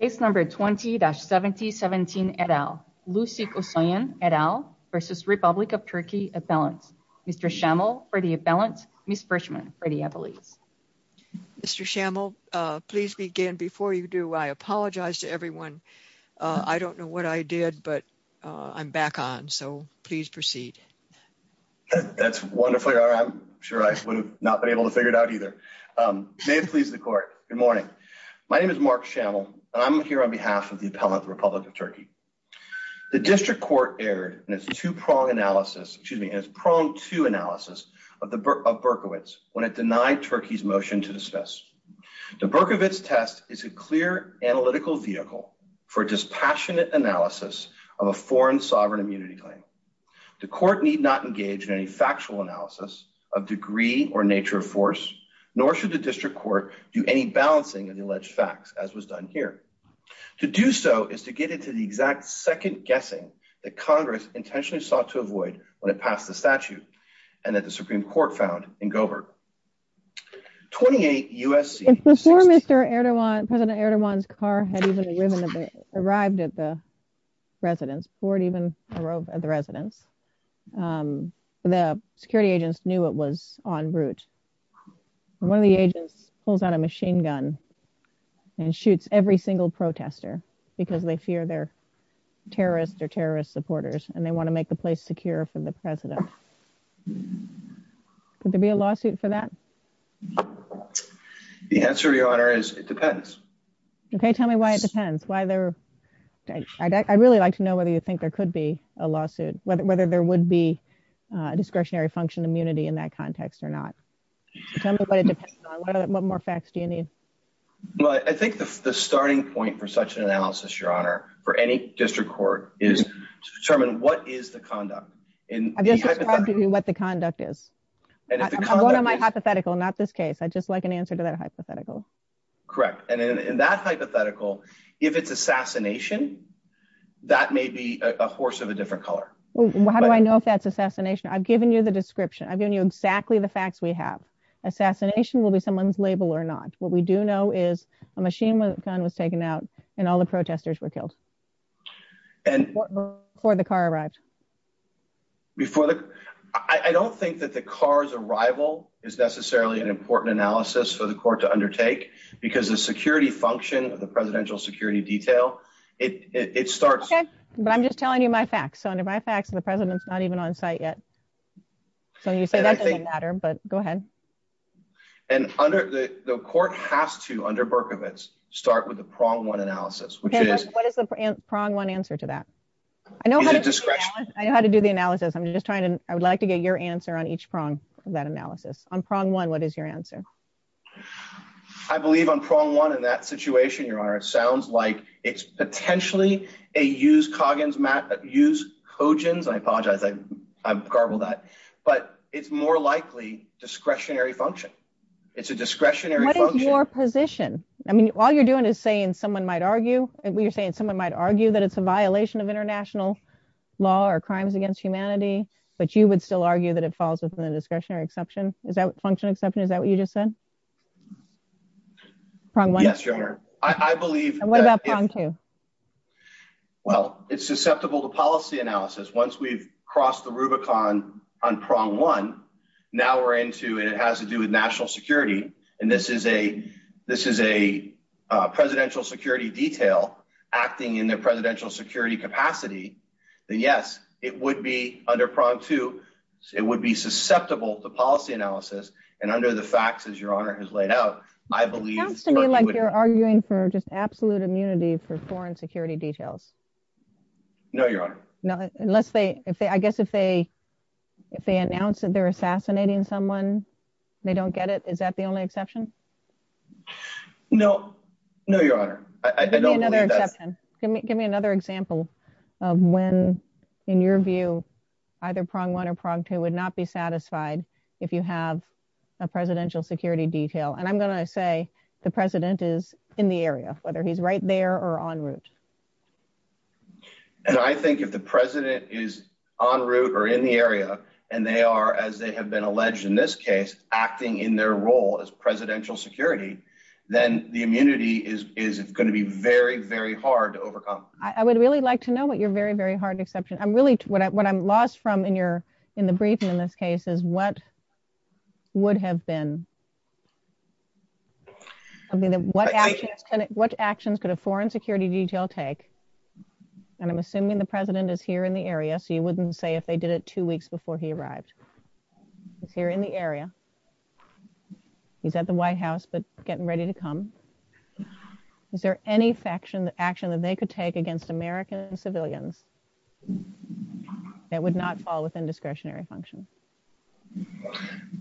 Appeal. Case number 20-7017 et al, Lusik Usoyan et al versus Republic of Turkey Appellant, Mr. Schammel for the appellant, Ms. Frischmann for the appellate. Mr. Schammel, please begin before you do. I apologize to everyone. I don't know what I did, but I'm back on. So please proceed. That's wonderful. I'm sure I would have not been able to figure it out either. May it please the court. Good morning. My name is Mark Schammel. I'm here on behalf of the Appellant of the Republic of Turkey. The district court erred in its two-pronged analysis, excuse me, in its pronged two analysis of Berkowitz when it denied Turkey's motion to dismiss. The Berkowitz test is a clear analytical vehicle for a dispassionate analysis of a foreign sovereign immunity claim. The court need not engage in any factual analysis of degree or nature of force, nor should the district court do any balancing of the alleged facts as was done here. To do so is to get into the exact second guessing that Congress intentionally sought to avoid when it passed the statute and that the Supreme Court found in Gobert. 28 U.S.C. Before Mr. Erdogan, President Erdogan's car had even arrived at the residence, board even arrived at the residence, the security agents knew it was en route. One of the agents pulls out a machine gun and shoots every single protester because they fear they're terrorists or terrorist supporters and they want to make the place secure for the president. Could there be a lawsuit for that? The answer, Your Honor, is it depends. Okay, tell me why it depends on what you think there could be a lawsuit, whether there would be a discretionary function immunity in that context or not. Tell me what it depends on. What more facts do you need? Well, I think the starting point for such an analysis, Your Honor, for any district court is to determine what is the conduct. I've just described to you what the conduct is. I'm going on my hypothetical, not this case. I'd just like an answer to that hypothetical. Correct. And in that hypothetical, if it's assassination, that may be a horse of a different color. How do I know if that's assassination? I've given you the description. I've given you exactly the facts we have. Assassination will be someone's label or not. What we do know is a machine gun was taken out and all the protesters were killed. And before the car arrived. I don't think that the car's arrival is necessarily an important analysis for the court to undertake because the security function of the presidential security detail, it starts. But I'm just telling you my facts. So under my facts, the president's not even on site yet. So you say that doesn't matter, but go ahead. And under the court has to, under Berkowitz, start with the prong one analysis, which is what is the prong one answer to that? I know how to do the analysis. I'm just trying to I would like to get your answer on each prong of that analysis on prong one. What is your answer? I believe on prong one in that situation, your honor, it sounds like it's potentially a use Coggins use Coggins. I apologize. I've garbled that, but it's more likely discretionary function. It's a discretionary position. I mean, all you're doing is saying someone might argue and you're saying someone might argue that it's a violation of international law or crimes against humanity. But you would still argue that it falls within the discretionary exception? Is that function exception? Is that what you just said? Yes, your honor. I believe. And what about prong two? Well, it's susceptible to policy analysis. Once we've crossed the Rubicon on prong one, now we're into it. It has to do with national security. And this is a this is a presidential security detail acting in their presidential security capacity. Yes, it would be under prong two. It would be susceptible to policy analysis. And under the facts, as your honor has laid out, I believe it's to me like you're arguing for just absolute immunity for foreign security details. No, your honor. No, unless they if they I guess if they if they announce that they're assassinating someone, they don't get it. Is that the only exception? No, no, your honor. I don't believe that. Give me another example of when, in your view, I've heard either prong one or prong two would not be satisfied if you have a presidential security detail. And I'm going to say the president is in the area, whether he's right there or en route. And I think if the president is en route or in the area and they are, as they have been alleged in this case, acting in their role as presidential security, then the immunity is is going to be very, very hard to overcome. I would really like to know what your very, very hard exception. I'm really what I'm lost from in your in the briefing in this case is what would have been. I mean, what actions could a foreign security detail take? And I'm assuming the president is here in the area, so you wouldn't say if they did it two weeks before he arrived here in the area. He's at the White House, but getting ready to come. Is there any faction action that they could take against American civilians that would not fall within discretionary function?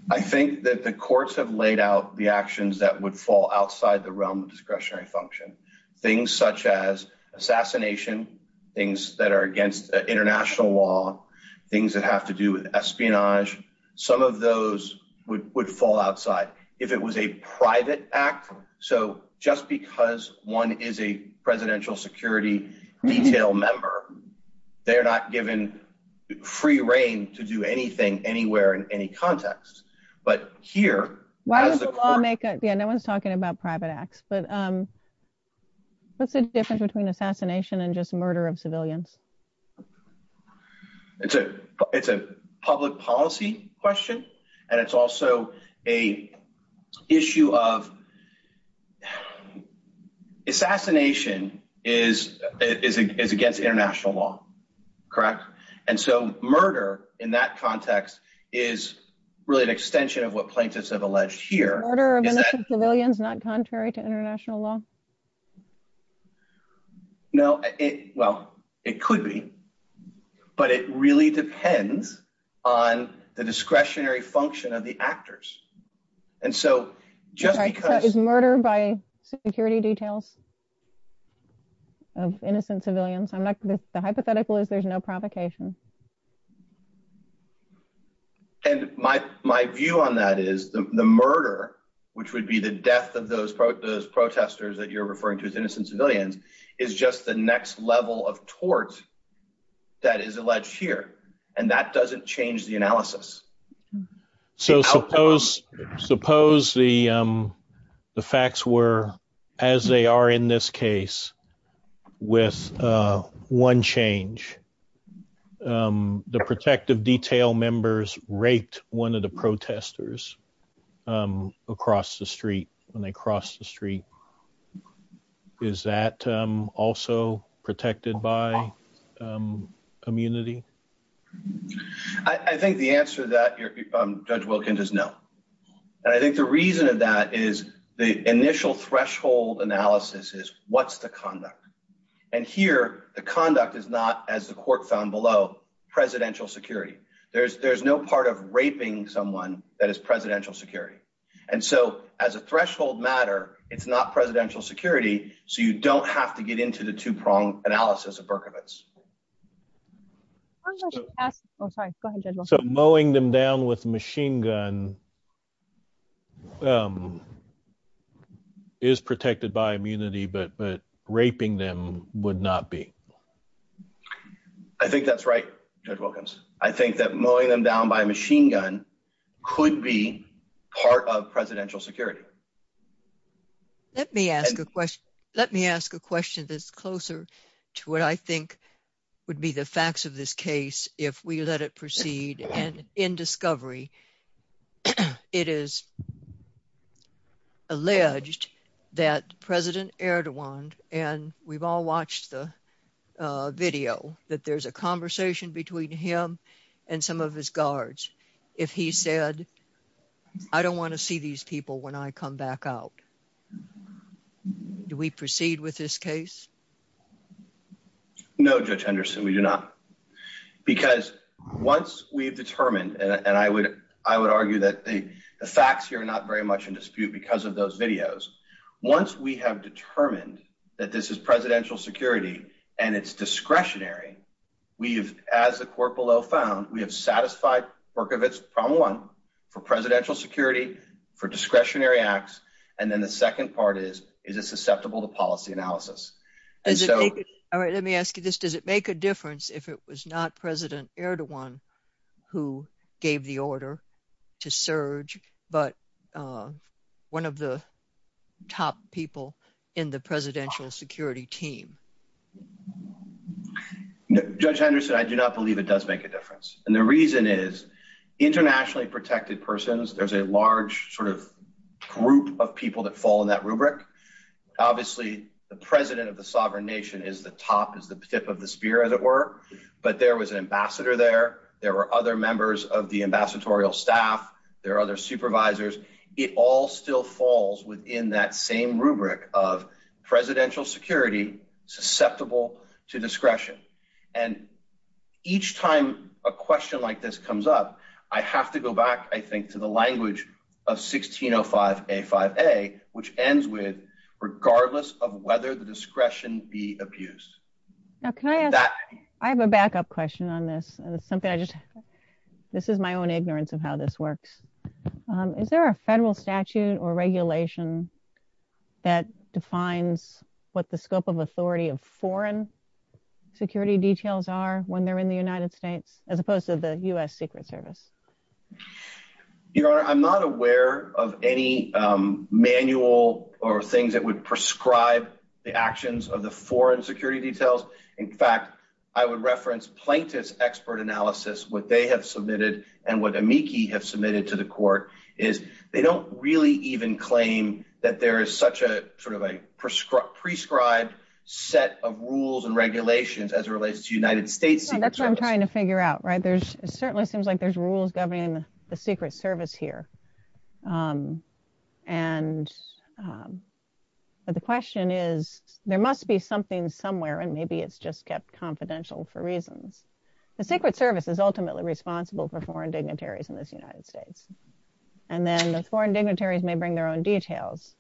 I think that the courts have laid out the actions that would fall outside the realm of discretionary function, things such as assassination, things that are against international law, things that have to do with espionage. Some of those would would fall outside if it was a private act. So just because one is a presidential security detail member, they are not given free reign to do anything anywhere in any context. But here, why is the lawmaker? Yeah, no one's talking about private acts, but. What's the difference between assassination and just murder of civilians? It's a it's a public policy question, and it's also a issue of. Assassination is is against international law, correct? And so murder in that context is really an extension of what plaintiffs have alleged here. Murder of innocent civilians not contrary to international law. No, well, it could be, but it really depends on the discretionary function of the actors. And so just because murder by security details. Of innocent civilians, I'm not the hypothetical is there's no provocation. And my my view on that is the murder, which would be the death of those protesters that you're referring to as innocent civilians, is just the next level of tort. That is alleged here, and that doesn't change the analysis. So suppose suppose the the facts were as they are in this case with one change. The protective detail members raped one of the protesters across the street when they crossed the street. Is that also protected by immunity? I think the answer that you're Judge Wilkins is no. And I think the reason of that is the initial threshold analysis is what's the conduct? And here the conduct is not as the court found below presidential security. There's there's no part of raping someone that is presidential security. And so as a threshold matter, it's not presidential security. So you don't have to get into the two prong analysis of Berkovits. So mowing them down with machine gun is protected by immunity, but but raping them is not. Raping them would not be. I think that's right, Judge Wilkins. I think that mowing them down by machine gun could be part of presidential security. Let me ask a question. Let me ask a question that's closer to what I think would be the facts of this case if we let it proceed. And in discovery, it is alleged that President Erdogan and we want all watched the video that there's a conversation between him and some of his guards. If he said I don't want to see these people when I come back out, do we proceed with this case? No, Judge Anderson, we do not. Because once we've determined and I would I would argue that the facts here are not very much in dispute because of those videos. Once we have determined that this is presidential security and it's discretionary, we've as the court below found, we have satisfied Berkovits problem one for presidential security, for discretionary acts. And then the second part is, is it susceptible to policy analysis? All right, let me ask you this. Does it make a difference if it was not President Erdogan who gave the order to surge, but one of the top people in the presidential security team? Judge Anderson, I do not believe it does make a difference. And the reason is internationally protected persons. There's a large sort of group of people that fall in that rubric. Obviously, the president of the sovereign nation is the top is the tip of the spear, as it were. But there was an ambassador there. There were other members of the ambassadorial staff. There are other supervisors. It all still falls within that same rubric of presidential security susceptible to discretion. And each time a question like this comes up, I have to go back, I think, to the language of 1605, a five, a which ends with regardless of whether the discretion be abused, that I have a backup question on this. And it's something I just this is my own ignorance of how this works. Is there a federal statute or regulation that defines what the scope of authority of foreign security details are when they're in the United States, as opposed to the US Secret Service? Your Honor, I'm not aware of any manual or things that would prescribe the actions of the foreign security details. In fact, I would reference plaintiff's expert analysis, what they have submitted, and what amici have submitted to the court is they don't really even claim that there is such a sort of a prescribed set of rules and regulations as it relates to United States. That's what I'm trying to figure out, right? There's certainly seems like there's rules governing the Secret Service here. And the question is, there must be something somewhere, and maybe it's just kept confidential for reasons. The Secret Service is ultimately responsible for foreign dignitaries in this United States. And then the foreign dignitaries may bring their own details.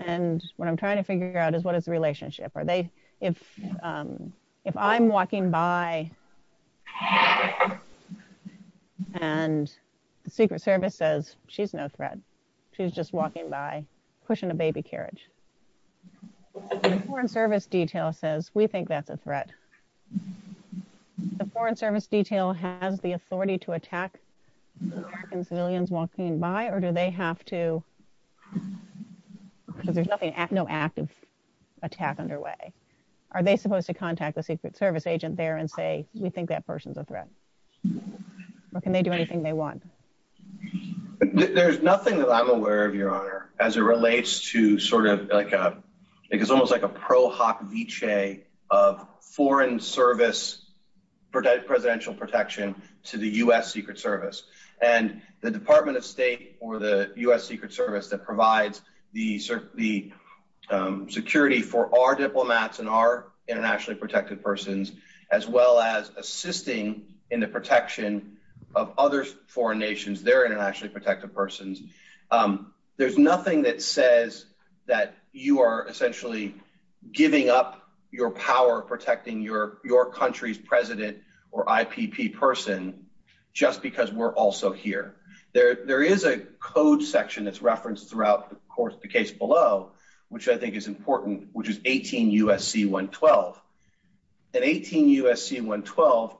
And what I'm trying to figure out is what is the relationship? If I'm walking by, and the Secret Service says, she's no threat. She's just walking by, pushing a baby carriage. The Foreign Service detail says, we think that's a threat. The Foreign Service detail has the authority to attack American civilians walking by, or do they have to? Because there's no active attack underway. Are they supposed to contact the Secret Service agent there and say, we think that person's a threat? Or can they do anything they want? There's nothing that I'm aware of, Your Honor, as it relates to sort of like, it's almost like a pro hoc vichy of Foreign Service presidential protection to the U.S. Secret Service. And the Department of State or the U.S. Secret Service that provides the security for our diplomats and our internationally protected persons, as well as assisting in the protection of other foreign nations, their internationally protected persons, there's nothing that says that you are essentially giving up your power protecting your country's president or IPP person just because we're also here. There is a code section that's referenced throughout the case below, which I think is important, which is 18 U.S.C. 112. And 18 U.S.C. 112,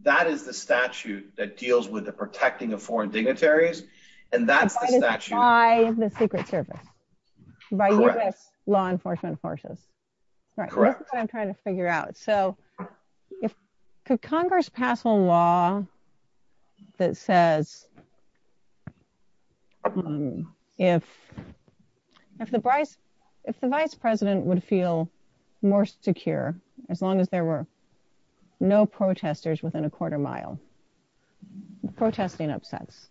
that is the statute that deals with the protecting of foreign dignitaries, and that's the statute- By the Secret Service. Correct. By U.S. law enforcement forces. Correct. This is what I'm trying to figure out. So could Congress pass a law that says if the vice president would feel more secure as long as there were no protesters within a quarter mile, protesting upsets,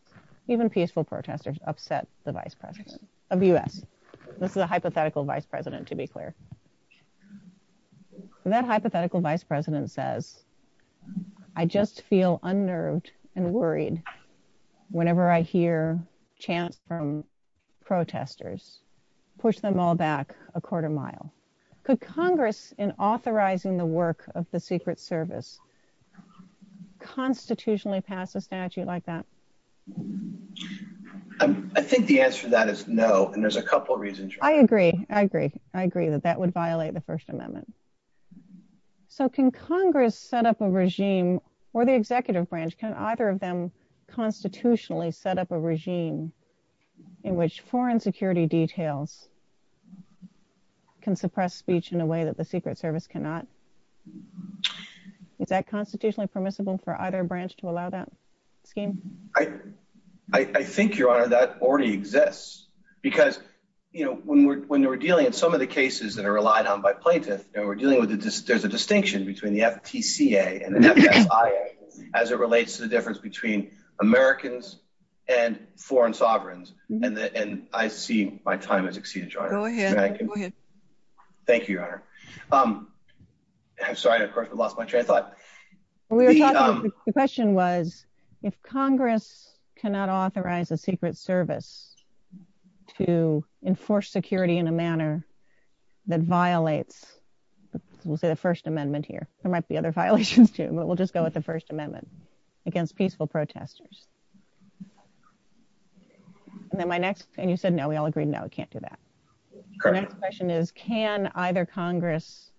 even peaceful protesters upset the vice president of the U.S. This is a hypothetical vice president, to be clear. That hypothetical vice president says, I just feel unnerved and worried whenever I hear chants from protesters, push them all back a quarter mile. Could Congress, in authorizing the work of the Secret Service, constitutionally pass a statute like that? I think the answer to that is no, and there's a couple reasons- I agree. I agree. I agree that that would violate the First Amendment. So can Congress set up a regime, or the executive branch, can either of them constitutionally set up a regime in which foreign security details can suppress speech in a way that the Secret Service cannot? Is that constitutionally permissible for either branch to allow that scheme? I think, Your Honor, that already exists, because, you know, when we're dealing with some of the cases that are relied on by plaintiffs, and we're dealing with- there's a distinction between the FTCA and the FSIA as it relates to the difference between Americans and foreign sovereigns, and I see my time has exceeded, Your Honor. Thank you. Thank you, Your Honor. I'm sorry, of course, I lost my train of thought. We were talking- the question was, if Congress cannot authorize the Secret Service to enforce security in a manner that violates, we'll say the First Amendment here, there might be other violations too, but we'll just go with the First Amendment against peaceful protesters. And then my next- and you said no, we all agreed no, we can't do that. Correct. The next question is, can either Congress,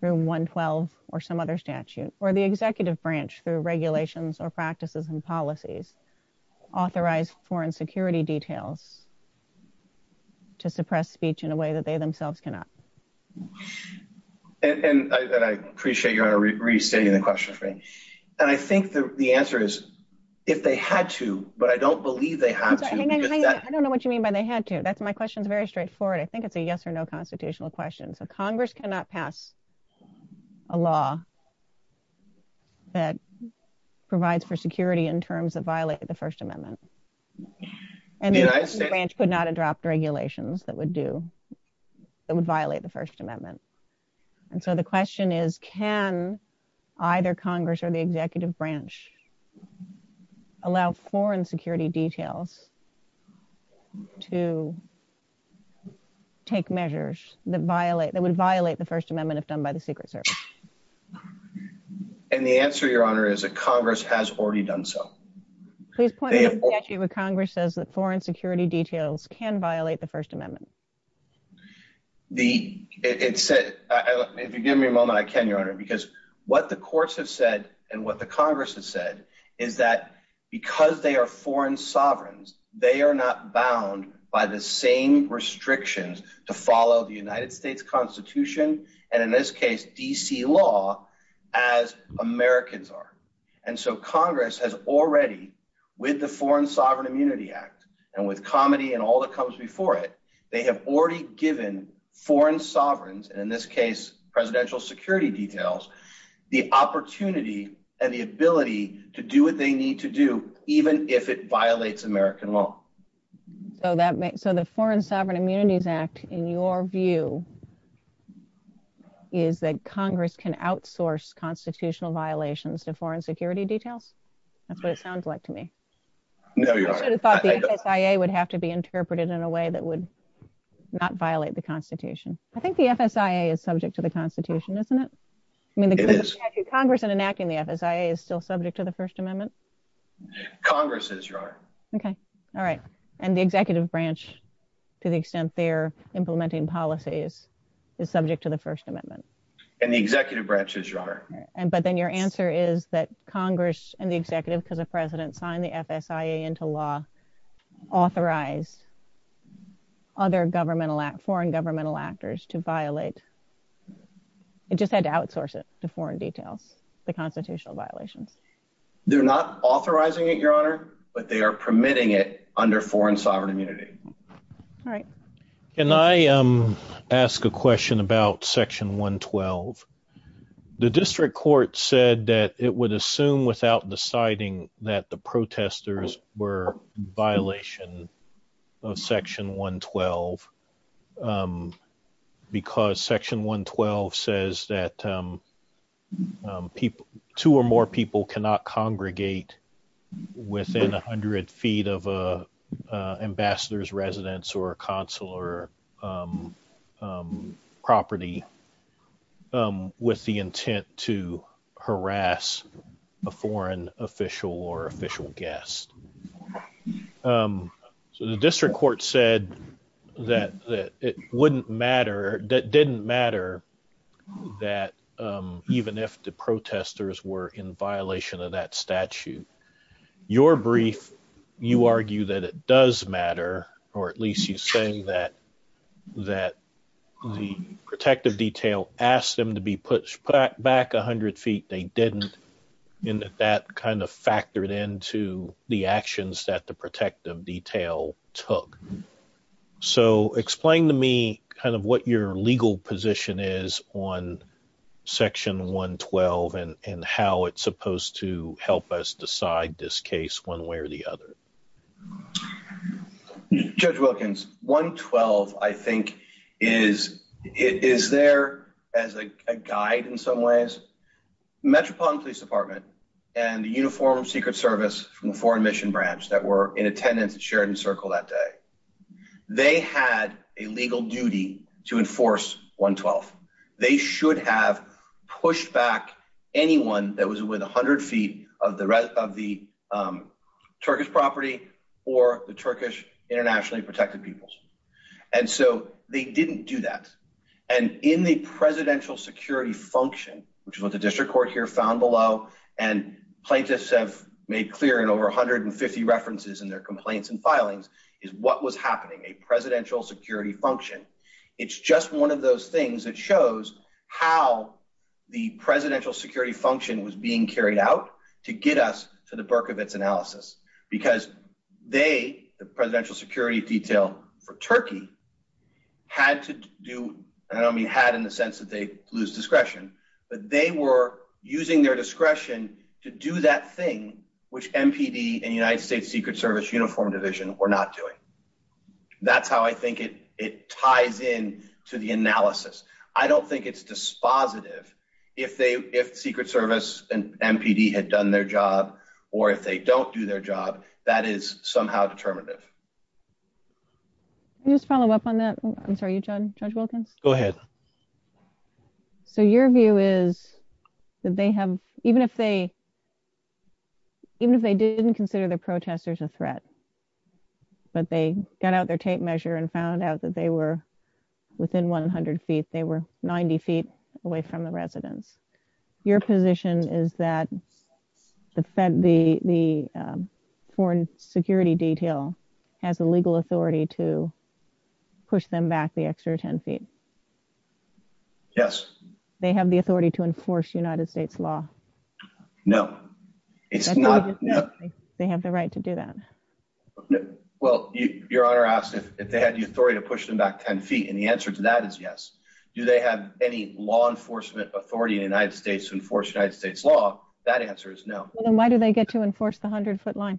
Room 112, or some other statute, or the executive branch through regulations or practices and policies, authorize foreign security details to suppress speech in a way that they themselves cannot? And I appreciate, Your Honor, restating the question for me. And I think the answer is, if they had to, but I don't believe they had to- Hang on, hang on, I don't know what you had to- that's my question. It's very straightforward. I think it's a yes or no constitutional question. So Congress cannot pass a law that provides for security in terms of violating the First Amendment. And the branch could not adopt regulations that would do- that would violate the First Amendment. And so the question is, can either Congress or executive branch allow foreign security details to take measures that violate- that would violate the First Amendment if done by the Secret Service? And the answer, Your Honor, is that Congress has already done so. Please point me to a statute where Congress says that foreign security details can violate the First Amendment. The- it said- if you give me a moment, I can, Your Honor, because what the courts have said and what the Congress has said is that because they are foreign sovereigns, they are not bound by the same restrictions to follow the United States Constitution, and in this case, D.C. law, as Americans are. And so Congress has already, with the Foreign Sovereign Immunity Act, and with COMETI and all that comes before it, they have already given foreign sovereigns, and in this case, presidential security details, the opportunity and the ability to do what they need to do even if it violates American law. So that makes- so the Foreign Sovereign Immunities Act, in your view, is that Congress can outsource constitutional violations to foreign security details? That's what it sounds like to me. No, Your Honor. I should have thought the FSIA would have to be interpreted in a way that would not violate the Constitution. I think the FSIA is subject to the Constitution, isn't it? I mean, Congress enacting the FSIA is still subject to the First Amendment? Congress is, Your Honor. Okay, all right. And the executive branch, to the extent they're implementing policies, is subject to the First Amendment? And the executive branch is, Your Honor. And- but then your answer is that Congress and the executive, because the authorized other governmental act- foreign governmental actors to violate- it just had to outsource it to foreign details, the constitutional violations. They're not authorizing it, Your Honor, but they are permitting it under foreign sovereign immunity. All right. Can I ask a question about Section 112? The district court said that it would assume without deciding that the protesters were in violation of Section 112, because Section 112 says that people- two or more people cannot congregate within 100 feet of an ambassador's residence or consular property with the intent to harass a foreign official or official guest. So the district court said that it wouldn't matter- that didn't matter that even if the protesters were in violation of that statute. Your brief, you argue that it does matter, or at least you say that the protective detail asked them to be pushed back 100 feet. They didn't, and that kind of factored into the actions that the protective detail took. So explain to me kind of what your legal position is on Section 112 and how it's supposed to help us decide this case one way or the other. Judge Wilkins, 112 I think is- is there as a guide in some ways? Metropolitan Police Department and the Uniform Secret Service from the Foreign Mission Branch that were in attendance at Sheridan Circle that day, they had a legal duty to enforce 112. They should have pushed back anyone that was within 100 feet of the- of the Turkish property or the Turkish internationally protected peoples, and so they didn't do that. And in the presidential security function, which is what the district court here found below, and plaintiffs have made clear in over 150 references in their complaints and filings, is what was happening, a presidential security function. It's just one of those things that shows how the presidential security function was being carried out to get us to the Burkevitz analysis because they, the presidential security detail for Turkey, had to do- I don't mean had in the sense that they lose discretion, but they were using their discretion to do that which MPD and United States Secret Service Uniform Division were not doing. That's how I think it ties in to the analysis. I don't think it's dispositive if they- if Secret Service and MPD had done their job, or if they don't do their job, that is somehow determinative. Can you just follow up on that? I'm sorry, Judge Wilkins? Go ahead. So your view is that they have- even if they- even if they didn't consider the protesters a threat, but they got out their tape measure and found out that they were within 100 feet, they were 90 feet away from the residents. Your position is that the fed- the foreign security detail has the legal authority to push them back the extra 10 feet. Yes. They have the authority to enforce United States law. No. It's not- They have the right to do that. Well, your honor asked if they had the authority to push them back 10 feet, and the answer to that is yes. Do they have any law enforcement authority in the United States to enforce United States law? That answer is no. Then why do they get to enforce the 100 foot line?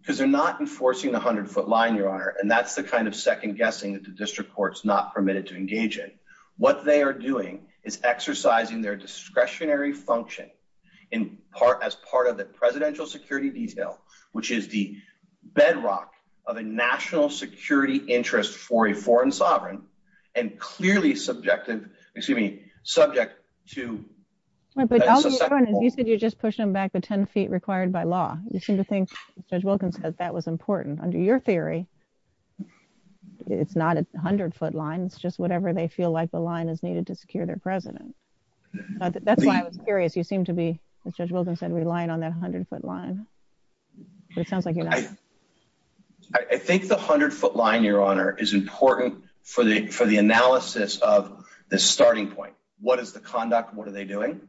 Because they're not enforcing the 100 foot line, your honor, and that's the kind of second guessing that the district court's not permitted to engage in. What they are doing is exercising their discretionary function in part- as part of the presidential security detail, which is the bedrock of a national security interest for a foreign sovereign, and clearly subjective- excuse me, subject to- You said you're just pushing them back the 10 feet required by law. You seem to Judge Wilkins said that was important. Under your theory, it's not a 100 foot line. It's just whatever they feel like the line is needed to secure their president. That's why I was curious. You seem to be, as Judge Wilkins said, relying on that 100 foot line, but it sounds like you're not. I think the 100 foot line, your honor, is important for the- for the analysis of the starting point. What is the conduct? What are they doing?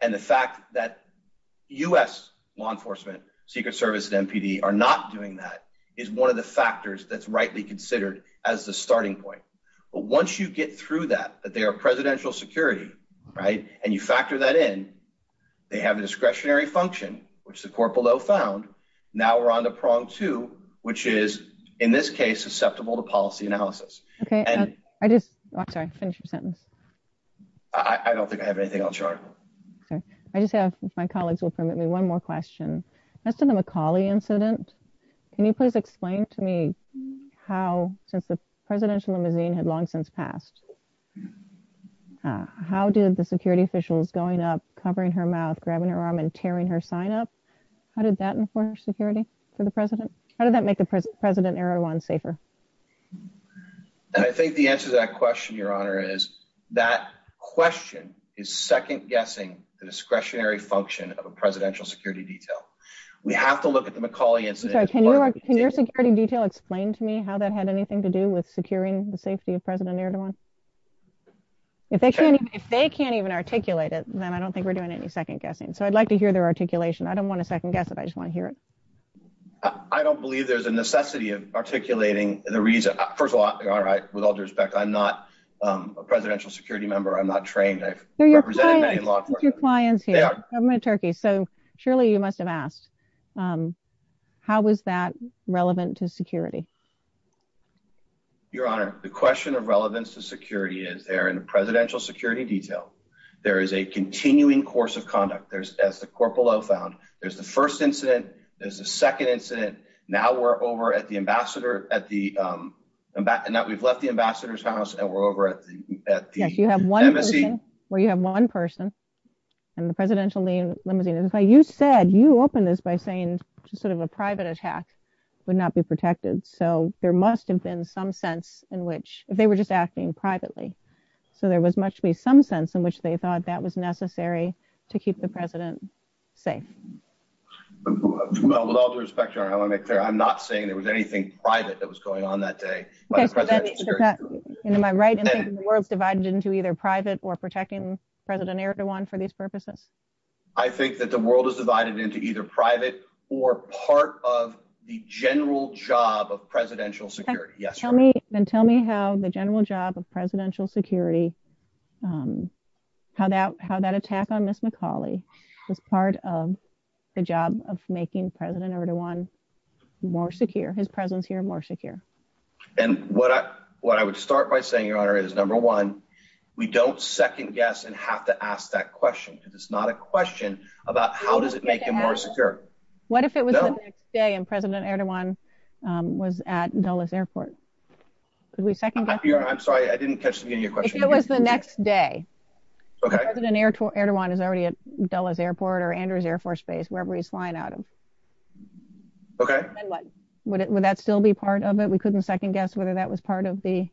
And the fact that U.S. law enforcement, Secret Service, and NPD are not doing that is one of the factors that's rightly considered as the starting point. But once you get through that, that they are presidential security, right, and you factor that in, they have a discretionary function, which the court below found. Now we're on to prong two, which is, in this case, susceptible to policy analysis. Okay, I just- I'm sorry, finish your chart. Okay, I just have, if my colleagues will permit me, one more question. As to the McAuley incident, can you please explain to me how, since the presidential limousine had long since passed, how did the security officials going up, covering her mouth, grabbing her arm, and tearing her sign up, how did that enforce security for the president? How did that make the president, Erdogan, safer? And I think the answer to that question, your honor, is that question is second guessing the discretionary function of a presidential security detail. We have to look at the McAuley incident- I'm sorry, can your security detail explain to me how that had anything to do with securing the safety of President Erdogan? If they can't even articulate it, then I don't think we're doing any second guessing. So I'd like to hear their articulation. I don't want to second guess it, I just want to hear it. I don't believe there's a necessity of articulating the reason. First of all, your honor, with all due respect, I'm not a presidential security member. I'm not trained. I've represented many in law enforcement. They're your clients here, the government of Turkey. So surely you must have asked, how is that relevant to security? Your honor, the question of relevance to security is there in the presidential security detail, there is a continuing course of conduct. There's, as the corporal Lowe found, there's the first incident, there's a second incident. Now we're over at the ambassador, at the, and that we've left the ambassador's house and we're over at the, at the embassy. Yes, you have one person, where you have one person and the presidential limousine. That's why you said, you opened this by saying sort of a private attack would not be protected. So there must have been some sense in which, if they were just acting privately. So there was much to be some sense in which they thought that was necessary to keep the president safe. Well, with all due respect, your honor, I want to make clear, I'm not saying there was anything private that was going on that day. Okay, so then, am I right in thinking the world's divided into either private or protecting President Erdogan for these purposes? I think that the world is divided into either private or part of the general job of presidential security. Yes. Tell me, then tell me how the general job of presidential security, um, how that, how that attack on Ms. McCauley was part of the job of making President Erdogan more secure, his presence here more secure. And what I, what I would start by saying, your honor, is number one, we don't second guess and have to ask that question because it's not a question about how does it make him more secure? What if it was the next day and President Erdogan was at Dulles airport? Could we second guess? I'm sorry, I didn't catch the beginning of your next day. Okay. President Erdogan is already at Dulles airport or Andrews Air Force Base, wherever he's flying out of. Okay. Would that still be part of it? We couldn't second guess whether that was part of the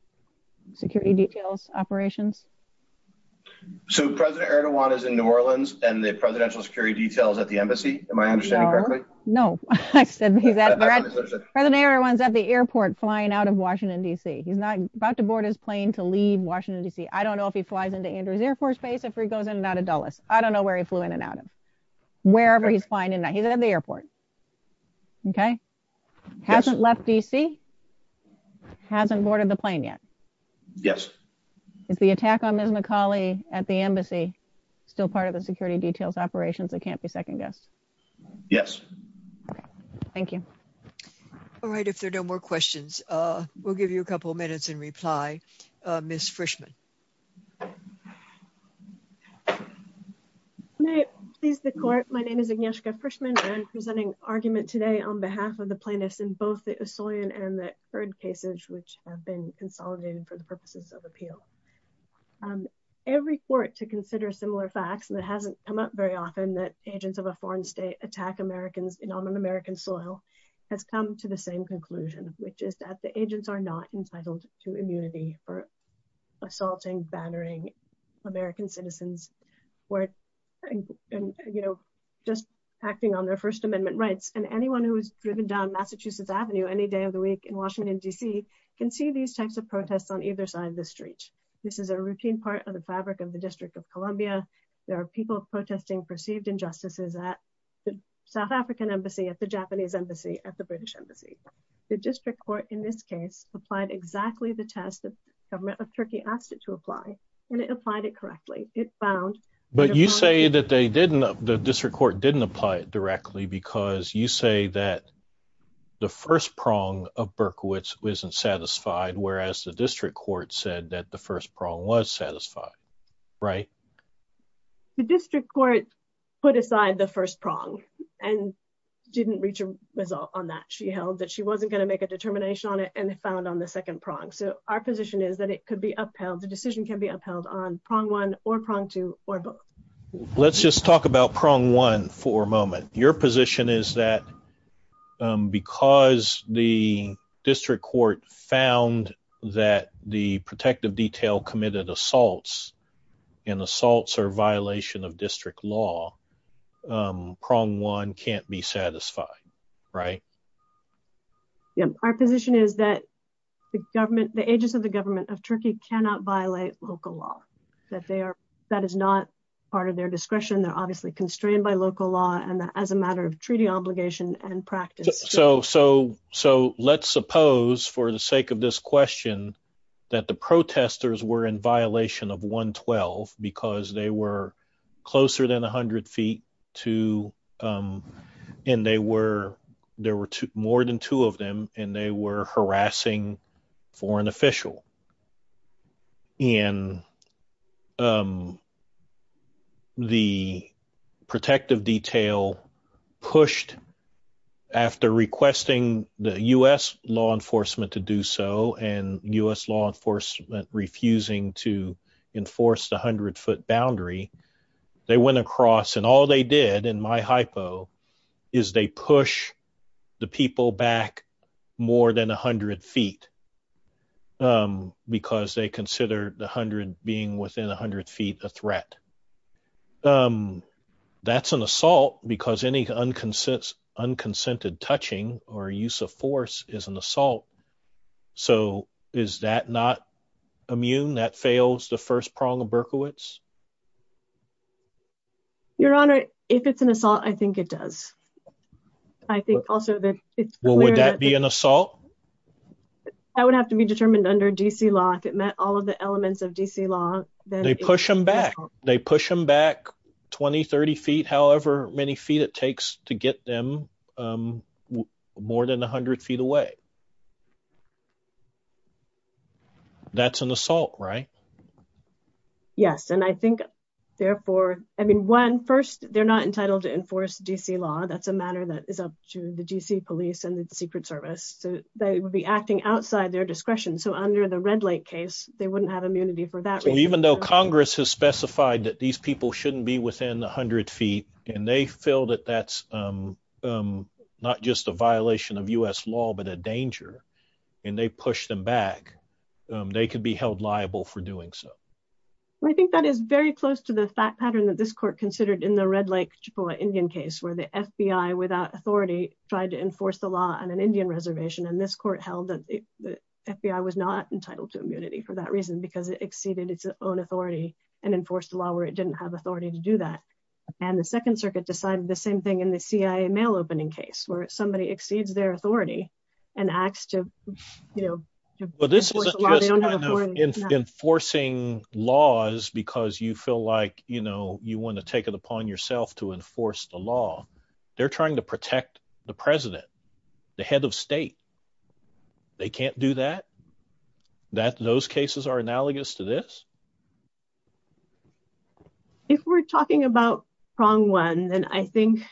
security details operations. So President Erdogan is in New Orleans and the presidential security details at the embassy, am I understanding correctly? No, I said he's at, President Erdogan's at the airport flying out of Washington DC. He's not to board his plane to leave Washington DC. I don't know if he flies into Andrews Air Force Base or if he goes in and out of Dulles. I don't know where he flew in and out of, wherever he's flying in and out. He's at the airport. Okay. Hasn't left DC? Hasn't boarded the plane yet? Yes. Is the attack on Ms. McCauley at the embassy still part of the security details operations that can't be second guessed? Yes. Okay. Thank you. All right. If there are no questions, we'll give you a couple of minutes in reply. Ms. Frischman. May it please the court. My name is Agnieszka Frischman. I'm presenting argument today on behalf of the plaintiffs in both the Usoyan and the Hurd cases, which have been consolidated for the purposes of appeal. Every court to consider similar facts, and it hasn't come up very often, that agents of a foreign state attack Americans on American soil has come to the same conclusion. The agents are not entitled to immunity for assaulting, bannering American citizens, just acting on their first amendment rights. Anyone who has driven down Massachusetts Avenue any day of the week in Washington DC can see these types of protests on either side of the street. This is a routine part of the fabric of the District of Columbia. There are people protesting perceived injustices at the South African embassy, at the Japanese embassy, at the British embassy. The district court, in this case, applied exactly the test that the government of Turkey asked it to apply, and it applied it correctly. It found- But you say that they didn't, the district court didn't apply it directly because you say that the first prong of Berkowitz wasn't satisfied, whereas the district court said that the first prong was satisfied, right? The district court put aside the first prong and didn't reach a result on that. She held that she wasn't going to make a determination on it and found on the second prong. So our position is that it could be upheld, the decision can be upheld on prong one or prong two or both. Let's just talk about prong one for a moment. Your position is that because the district court found that the protective detail committed assaults and assaults are a violation of district law, prong one can't be satisfied, right? Yeah, our position is that the government, the agents of the government of Turkey cannot violate local law, that they are, that is not part of their discretion. They're obviously constrained by local law and as a matter of treaty obligation and practice. So let's suppose for the sake of this question that the protesters were in violation of 112 because they were closer than 100 feet to, and they were, there were more than two of them, and they were harassing foreign official. And the protective detail pushed after requesting the U.S. law enforcement to do so and U.S. law enforcement refusing to enforce the 100 foot more than 100 feet because they consider the 100 being within 100 feet a threat. That's an assault because any unconsented touching or use of force is an assault. So is that not immune? That fails the first prong of Berkowitz? Your honor, if it's an assault, I think it does. I think also that it's clear that... Well, would that be an assault? That would have to be determined under D.C. law. If it met all of the elements of D.C. law, then... They push them back. They push them back 20, 30 feet, however many feet it takes to get them more than 100 feet away. That's an assault, right? Yes, and I think therefore, I mean, one, first, they're not entitled to enforce D.C. law. That's a matter that is up to the D.C. police and the secret service. So they would be acting outside their discretion. So under the Red Lake case, they wouldn't have immunity for that reason. Even though Congress has specified that these people shouldn't be within 100 feet, and they feel that that's not just a violation of U.S. law, but a danger, and they push them back, they could be held liable for doing so. I think that is very close to the fact pattern that this court considered in the Red Lake Indian case, where the FBI without authority tried to enforce the law on an Indian reservation, and this court held that the FBI was not entitled to immunity for that reason, because it exceeded its own authority and enforced a law where it didn't have authority to do that. And the Second Circuit decided the same thing in the CIA mail-opening case, where somebody exceeds their authority and acts to, you know... Well, this isn't just kind of enforcing laws because you feel like, you know, enforce the law. They're trying to protect the president, the head of state. They can't do that? That those cases are analogous to this? If we're talking about prong one, then I think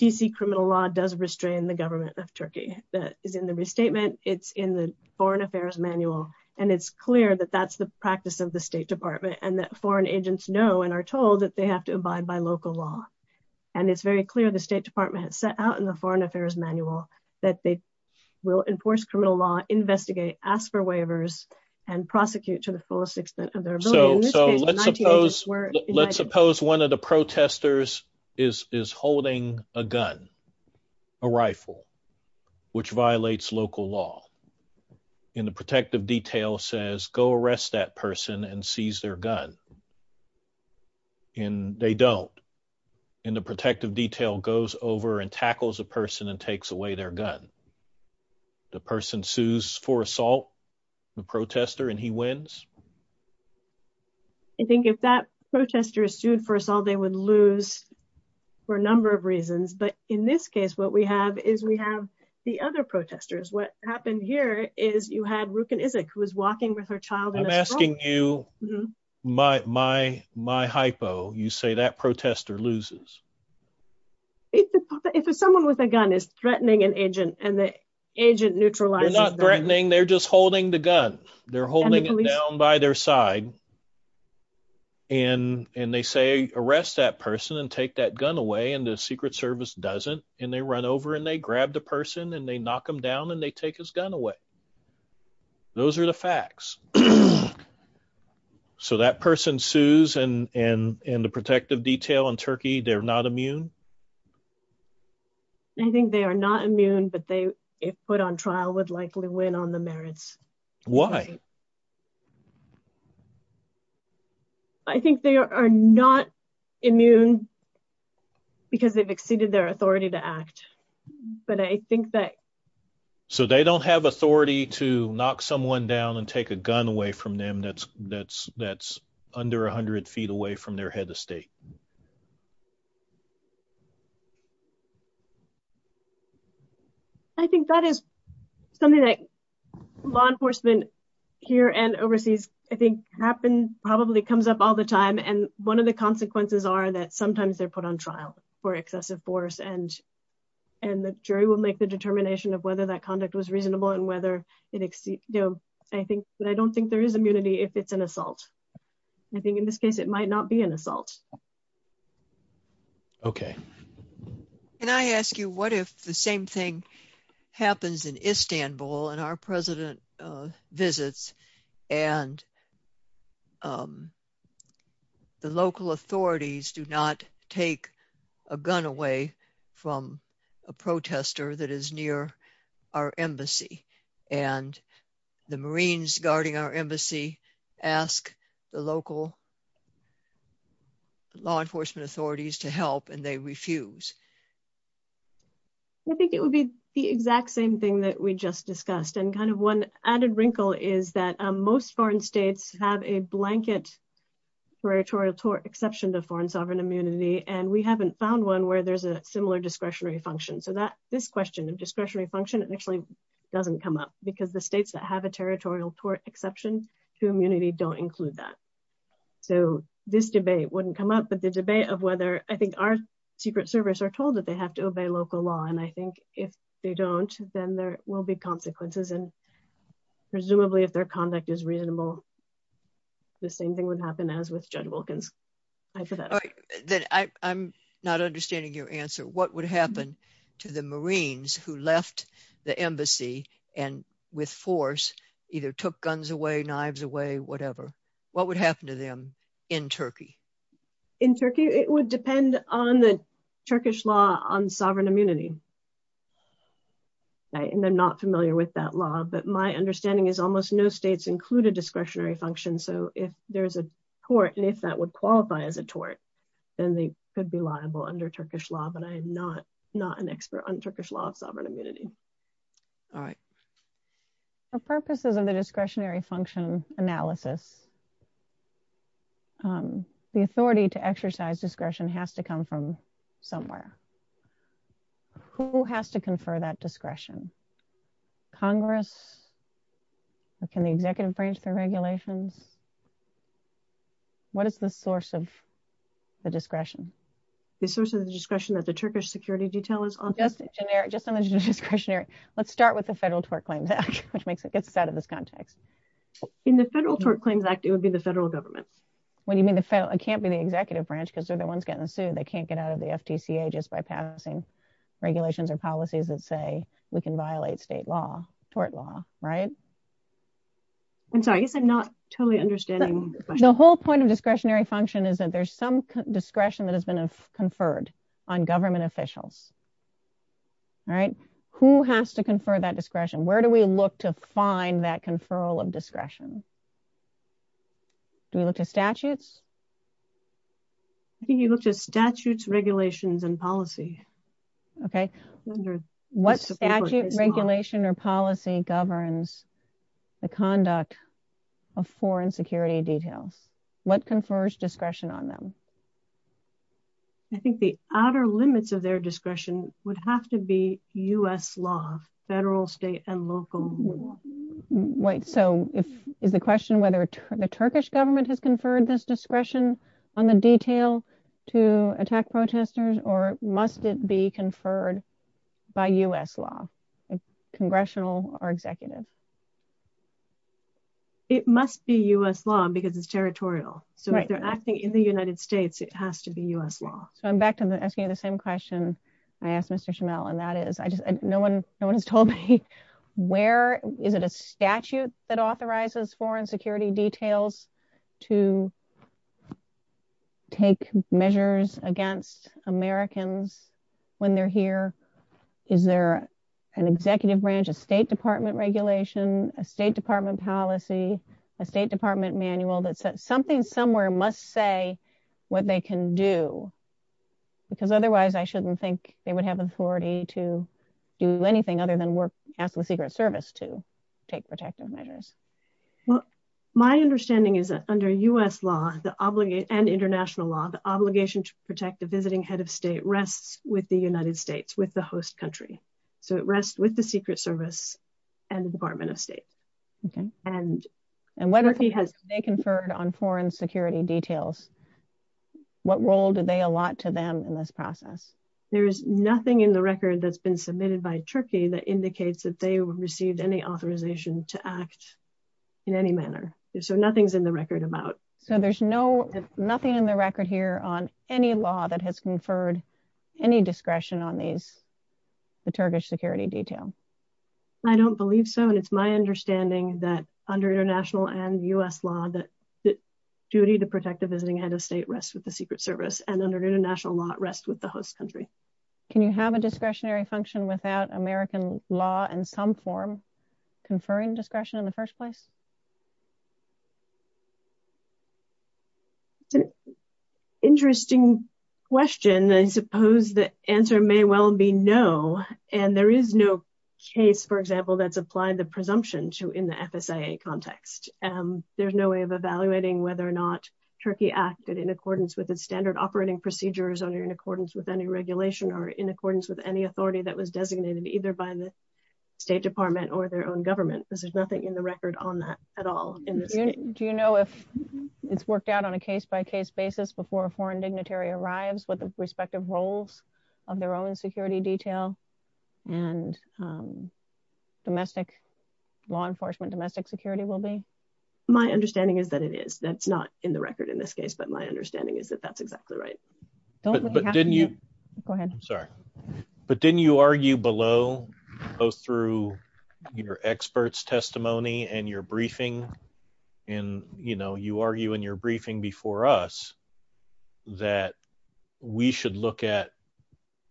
DC criminal law does restrain the government of Turkey. That is in the restatement, it's in the foreign affairs manual, and it's clear that that's the practice of the State Department, and that foreign agents know and are told that they have to abide by local law. And it's very clear the State Department has set out in the foreign affairs manual that they will enforce criminal law, investigate, ask for waivers, and prosecute to the fullest extent of their ability. So let's suppose one of the protesters is holding a gun, a rifle, which violates local law, and the protective detail says go arrest that person and seize their gun. And they don't. And the protective detail goes over and tackles a person and takes away their gun. The person sues for assault, the protester, and he wins? I think if that protester is sued for assault, they would lose for a number of reasons. But in this case, what we have is we have the other protesters. What happened here is you had Rukin-Izik, who was walking with her child. I'm asking you my hypo. You say that protester loses. If someone with a gun is threatening an agent and the agent neutralizes them. They're not threatening, they're just holding the gun. They're holding it down by their side. And they say arrest that person and take that gun away, and the Secret Service doesn't. And they run over and they grab the person and they knock him down and they take his gun away. Those are the facts. So that person sues, and in the protective detail in Turkey, they're not immune? I think they are not immune, but they, if put on trial, would likely win on the merits. Why? I think they are not immune because they've exceeded their authority to act. But I think that. So they don't have authority to knock someone down and take a gun away from them that's under 100 feet away from their head of state? I think that is something that law enforcement here and overseas, I think happen, probably comes up all the time. And one of the consequences are that sometimes they're put on trial for excessive force. And the jury will make the determination of whether that conduct was reasonable and whether it exceeds. I think, but I don't think there is immunity if it's an assault. I think in this case, it might not be an assault. Okay. Can I ask you what if the same thing happens in Istanbul and our president visits and the local authorities do not take a gun away from a protester that is near our embassy and the Marines guarding our embassy ask the local law enforcement authorities to help and they refuse? I think it would be the exact same thing that we just discussed. And kind of one added wrinkle is that most foreign states have a blanket territorial tort exception to foreign sovereign immunity. And we haven't found one where there's a similar discretionary function. So that this question of discretionary function actually doesn't come up because the states that have a territorial tort exception to immunity don't include that. So this debate wouldn't come up, but the debate of whether I think our secret service are told that they have to obey local law. And I think if they don't, then there will be consequences. And presumably if their conduct is reasonable, the same thing would happen as with judge Wilkins. I'm not understanding your answer. What would happen to the Marines who left the embassy and with force either took guns away, knives away, whatever, what would happen to them in Turkey? In Turkey, it would depend on the Turkish law on sovereign immunity. And I'm not familiar with that law, but my understanding is almost no states include a discretionary function. So if there's a tort and if that would qualify as a tort, then they could be liable under Turkish law, but I am not an expert on Turkish law of sovereign immunity. The authority to exercise discretion has to come from somewhere. Who has to confer that discretion? Congress? Can the executive branch through regulations? What is the source of the discretion? The source of the discretion that the Turkish security detail is on. Just on the discretionary, let's start with the Federal Tort Claims Act, which makes it gets us out of this context. In the Federal Tort Claims Act, it would be the federal government. What do you mean? It can't be the executive branch because they're the ones getting sued. They can't get out of the FTCA just by passing regulations or policies that say we can violate state law, tort law, right? I'm sorry, I guess I'm not totally understanding. The whole point of discretionary function is that there's some discretion that has been conferred on government officials, right? Who has to confer that discretion? Do we look to statutes? I think you looked at statutes, regulations, and policy. Okay. What statute, regulation, or policy governs the conduct of foreign security details? What confers discretion on them? I think the outer limits of their discretion would have to be U.S. law, federal, state, and local law. Wait, so is the question whether the Turkish government has conferred this discretion on the detail to attack protesters or must it be conferred by U.S. law, congressional or executive? It must be U.S. law because it's territorial. So if they're acting in the United States, it has to be U.S. law. So I'm back to asking you the same question I asked Mr. Schimel and that is, no one has told me where, is it a statute that authorizes foreign security details to take measures against Americans when they're here? Is there an executive branch, a state department regulation, a state department policy, a state department manual that says something somewhere must say what they can do because otherwise I shouldn't think they would have authority to do anything other than ask the Secret Service to take protective measures. Well, my understanding is that under U.S. law and international law, the obligation to protect the visiting head of state rests with the United States, with the host country. So it rests with the Secret Service and the Department of State. Okay. And whether they conferred on foreign security details, what role did they allot to them in this process? There's nothing in the record that's been submitted by Turkey that indicates that they received any authorization to act in any manner. So nothing's in the record about. So there's nothing in the record here on any law that has conferred any discretion on these, the Turkish security detail. I don't believe so. And it's my understanding that under international and U.S. law, the duty to protect the visiting head of state rests with the Secret Service and under international law, it rests with the host country. Can you have a discretionary function without American law in some form conferring discretion in the first place? It's an interesting question. I suppose the answer may well be no. And there is no case, for example, that's applied the presumption to in the FSIA context. There's no way of evaluating whether or not Turkey acted in accordance with the standard operating procedures under in accordance with any regulation or in accordance with any authority that was designated either by the State Department or their own government. There's nothing in the record on that at all. Do you know if it's worked out on a case by case basis before a foreign dignitary arrives with the respective roles of their own security detail and domestic law enforcement, domestic security will be? My understanding is that it is. That's not in the record in this case, but my understanding is that that's exactly right. But didn't you go ahead? I'm sorry, but didn't you argue below both through your experts testimony and your briefing and, you know, you argue in your briefing before us that we should look at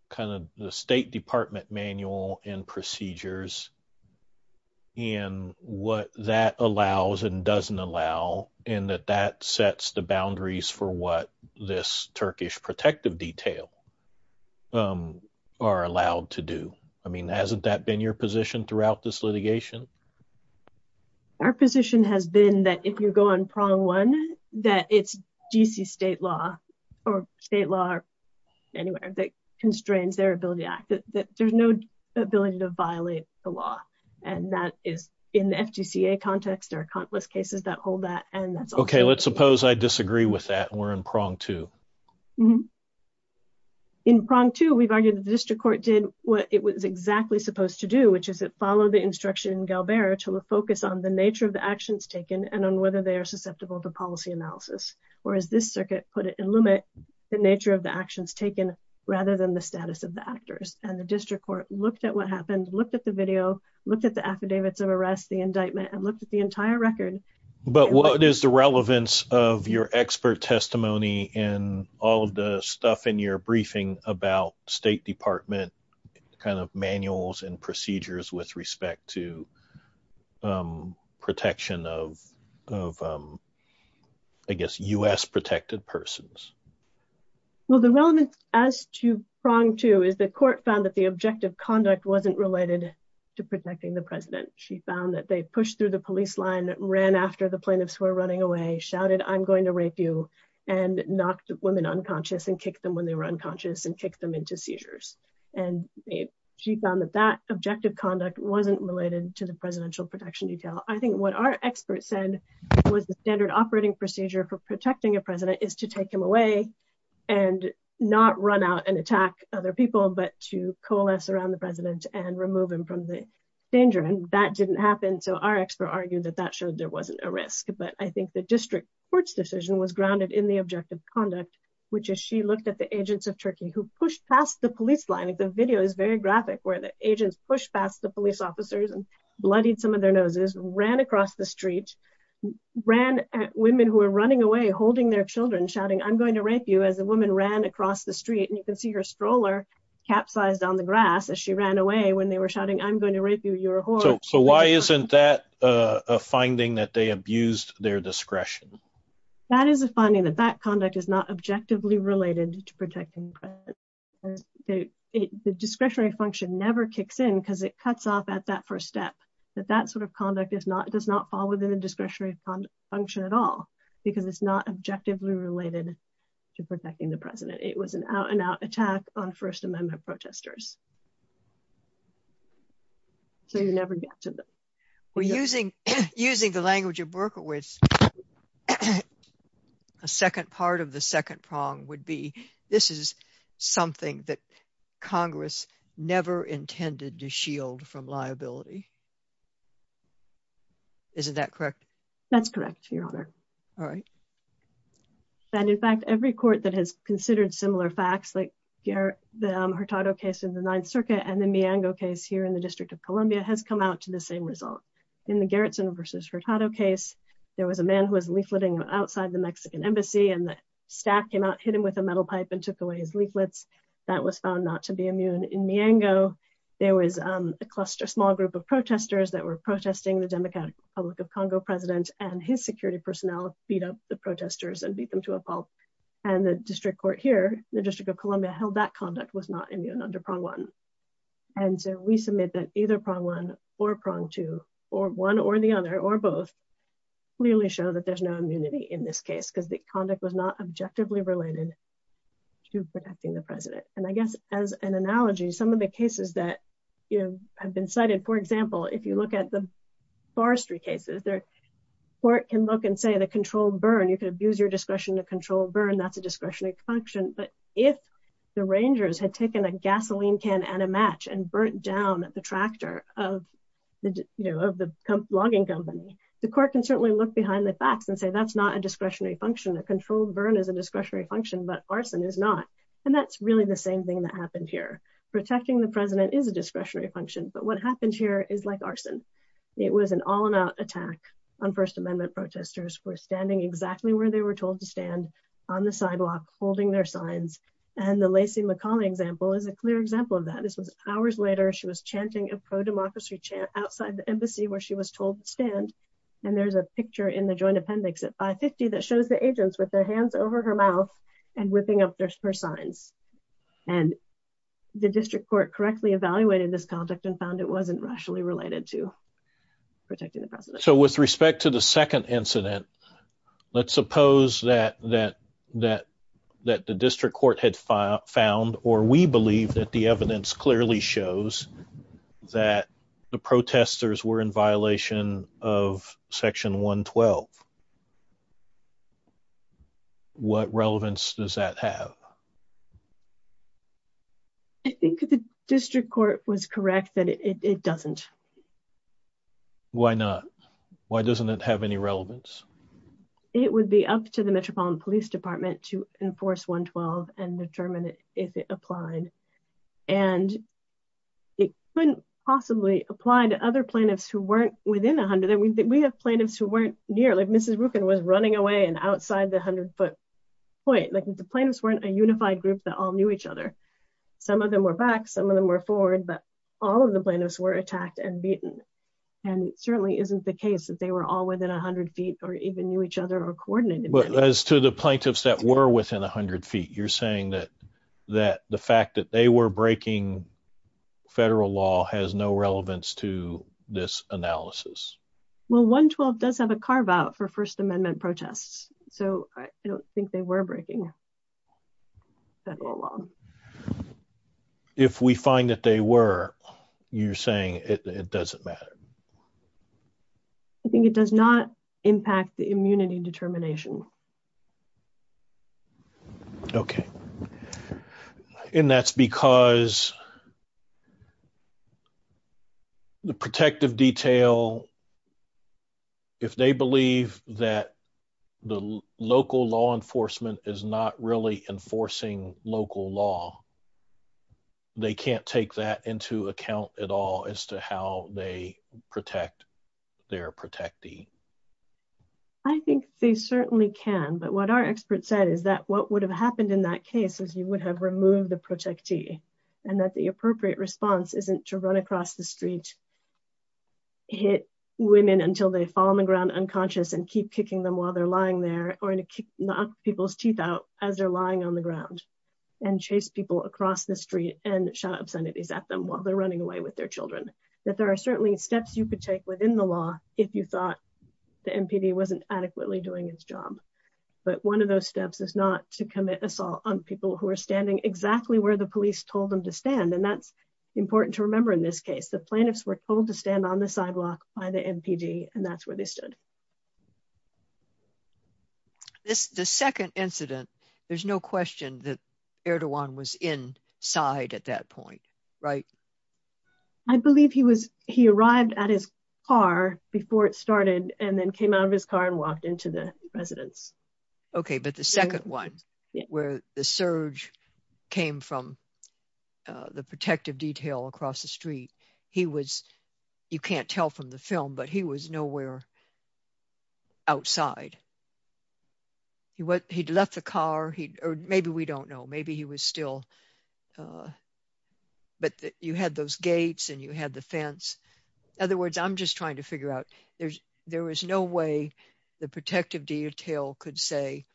kind of the State Department manual and procedures and what that allows and doesn't allow and that that sets the boundaries for what this Turkish protective detail are allowed to do? I mean, hasn't that been your throughout this litigation? Our position has been that if you go on prong one, that it's DC state law or state law or anywhere that constrains their ability to act, that there's no ability to violate the law. And that is in the FDCA context or countless cases that hold that. And that's OK. Let's suppose I disagree with that. We're in prong two. In prong two, we've argued that the district court did what it was exactly supposed to do, that follow the instruction in Galbera to focus on the nature of the actions taken and on whether they are susceptible to policy analysis. Whereas this circuit put it in limit the nature of the actions taken rather than the status of the actors. And the district court looked at what happened, looked at the video, looked at the affidavits of arrest, the indictment and looked at the entire record. But what is the relevance of your expert testimony and all of the stuff in your briefing about State Department kind of manuals and procedures with respect to protection of, I guess, U.S. protected persons? Well, the relevance as to prong two is the court found that the objective conduct wasn't related to protecting the president. She found that they pushed through the police line, ran after the plaintiffs who were running away, shouted, I'm going to rape you and knocked women unconscious and kicked them when they were unconscious and kicked them into seizures. And she found that that objective conduct wasn't related to the presidential protection detail. I think what our experts said was the standard operating procedure for protecting a president is to take him away and not run out and attack other people, but to coalesce around the president and remove him from the danger. And that didn't happen. So our expert argued that that showed there wasn't a risk. But I think the district court's decision was grounded in the objective conduct, which is she looked at the agents of Turkey who pushed past the police line. The video is very graphic where the agents pushed past the police officers and bloodied some of their noses, ran across the street, ran at women who were running away, holding their children, shouting, I'm going to rape you as a woman ran across the street. And you can see her stroller capsized on the grass as she ran away when they were I'm going to rape you, you're a whore. So why isn't that a finding that they abused their discretion? That is a finding that that conduct is not objectively related to protecting. The discretionary function never kicks in because it cuts off at that first step, that that sort of conduct does not fall within the discretionary function at all, because it's not objectively related to protecting the president. It was an out attack on First Amendment protesters. So you never get to that. We're using using the language of Berkowitz. A second part of the second prong would be this is something that Congress never intended to shield from liability. Isn't that correct? All right. And in fact, every court that has considered similar facts like the Hurtado case in the Ninth Circuit and the Miango case here in the District of Columbia has come out to the same result. In the Gerritsen versus Hurtado case, there was a man who was leafleting outside the Mexican embassy and the staff came out, hit him with a metal pipe and took away his leaflets. That was found not to be immune. In Miango, there was a cluster, small group of protesters that were protesting the Democratic Republic of Congo president and his security personnel beat up the protesters and beat them to a pulp. And the district court here, the District of Columbia held that conduct was not immune under prong one. And so we submit that either prong one or prong two or one or the other or both clearly show that there's no immunity in this case because the conduct was not objectively related to protecting the president. And I guess as an analogy, some of the cases that have been cited, for example, if you look at the Forestry cases, the court can look and say the controlled burn, you could abuse your discretion to control burn, that's a discretionary function. But if the Rangers had taken a gasoline can and a match and burnt down the tractor of the logging company, the court can certainly look behind the facts and say that's not a discretionary function. A controlled burn is a discretionary function, but arson is not. And that's really the same thing that happened here. Protecting the president is a discretionary function, but what happened here is like arson. It was an all-out attack on First Amendment protesters who were standing exactly where they were told to stand on the sidewalk holding their signs. And the Lacey McCauley example is a clear example of that. This was hours later, she was chanting a pro-democracy chant outside the embassy where she was told to stand. And there's a picture in the joint appendix at 550 that shows the agents with their hands over her mouth and ripping up her signs. And the district court correctly evaluated this conduct and found it wasn't rationally related to protecting the president. So with respect to the second incident, let's suppose that the district court had found or we believe that the evidence clearly shows that the protesters were in violation of section 112. What relevance does that have? I think the district court was correct that it doesn't. Why not? Why doesn't it have any relevance? It would be up to the Metropolitan Police Department to enforce 112 and determine if it applied. And it couldn't possibly apply to other plaintiffs who weren't within 100. And we have plaintiffs who weren't near, like Mrs. Rukin was running away and outside the 100-foot point. Like if the group that all knew each other, some of them were back, some of them were forward, but all of the plaintiffs were attacked and beaten. And it certainly isn't the case that they were all within 100 feet or even knew each other or coordinated. But as to the plaintiffs that were within 100 feet, you're saying that the fact that they were breaking federal law has no relevance to this analysis? Well, 112 does have a carve-out for First Amendment protests, so I don't think they were breaking federal law. If we find that they were, you're saying it doesn't matter? I think it does not impact the immunity determination. Okay. And that's because the protective detail, if they believe that the local law enforcement is not really enforcing local law, they can't take that into account at all as to how they protect their protectee. I think they certainly can. But what our expert said is that what would have happened in that case is you would have removed the protectee and that the appropriate response isn't to run across the street, hit women until they fall on the ground unconscious and keep kicking them while they're lying there or to knock people's teeth out as they're lying on the ground and chase people across the street and shout obscenities at them while they're running away with their children. That there are certainly steps you could take within the law if you thought the assault on people who are standing exactly where the police told them to stand. And that's important to remember in this case. The plaintiffs were told to stand on the sidewalk by the MPD and that's where they stood. The second incident, there's no question that Erdogan was inside at that point, right? I believe he arrived at his car before it started and then came out of his car and walked into the residence. Okay, but the second one where the surge came from the protective detail across the street, he was, you can't tell from the film, but he was nowhere outside. He'd left the car, or maybe we don't know, maybe he was still, but you had those gates and you had the fence. In other words, I'm just trying to figure out there was no way the protective detail could say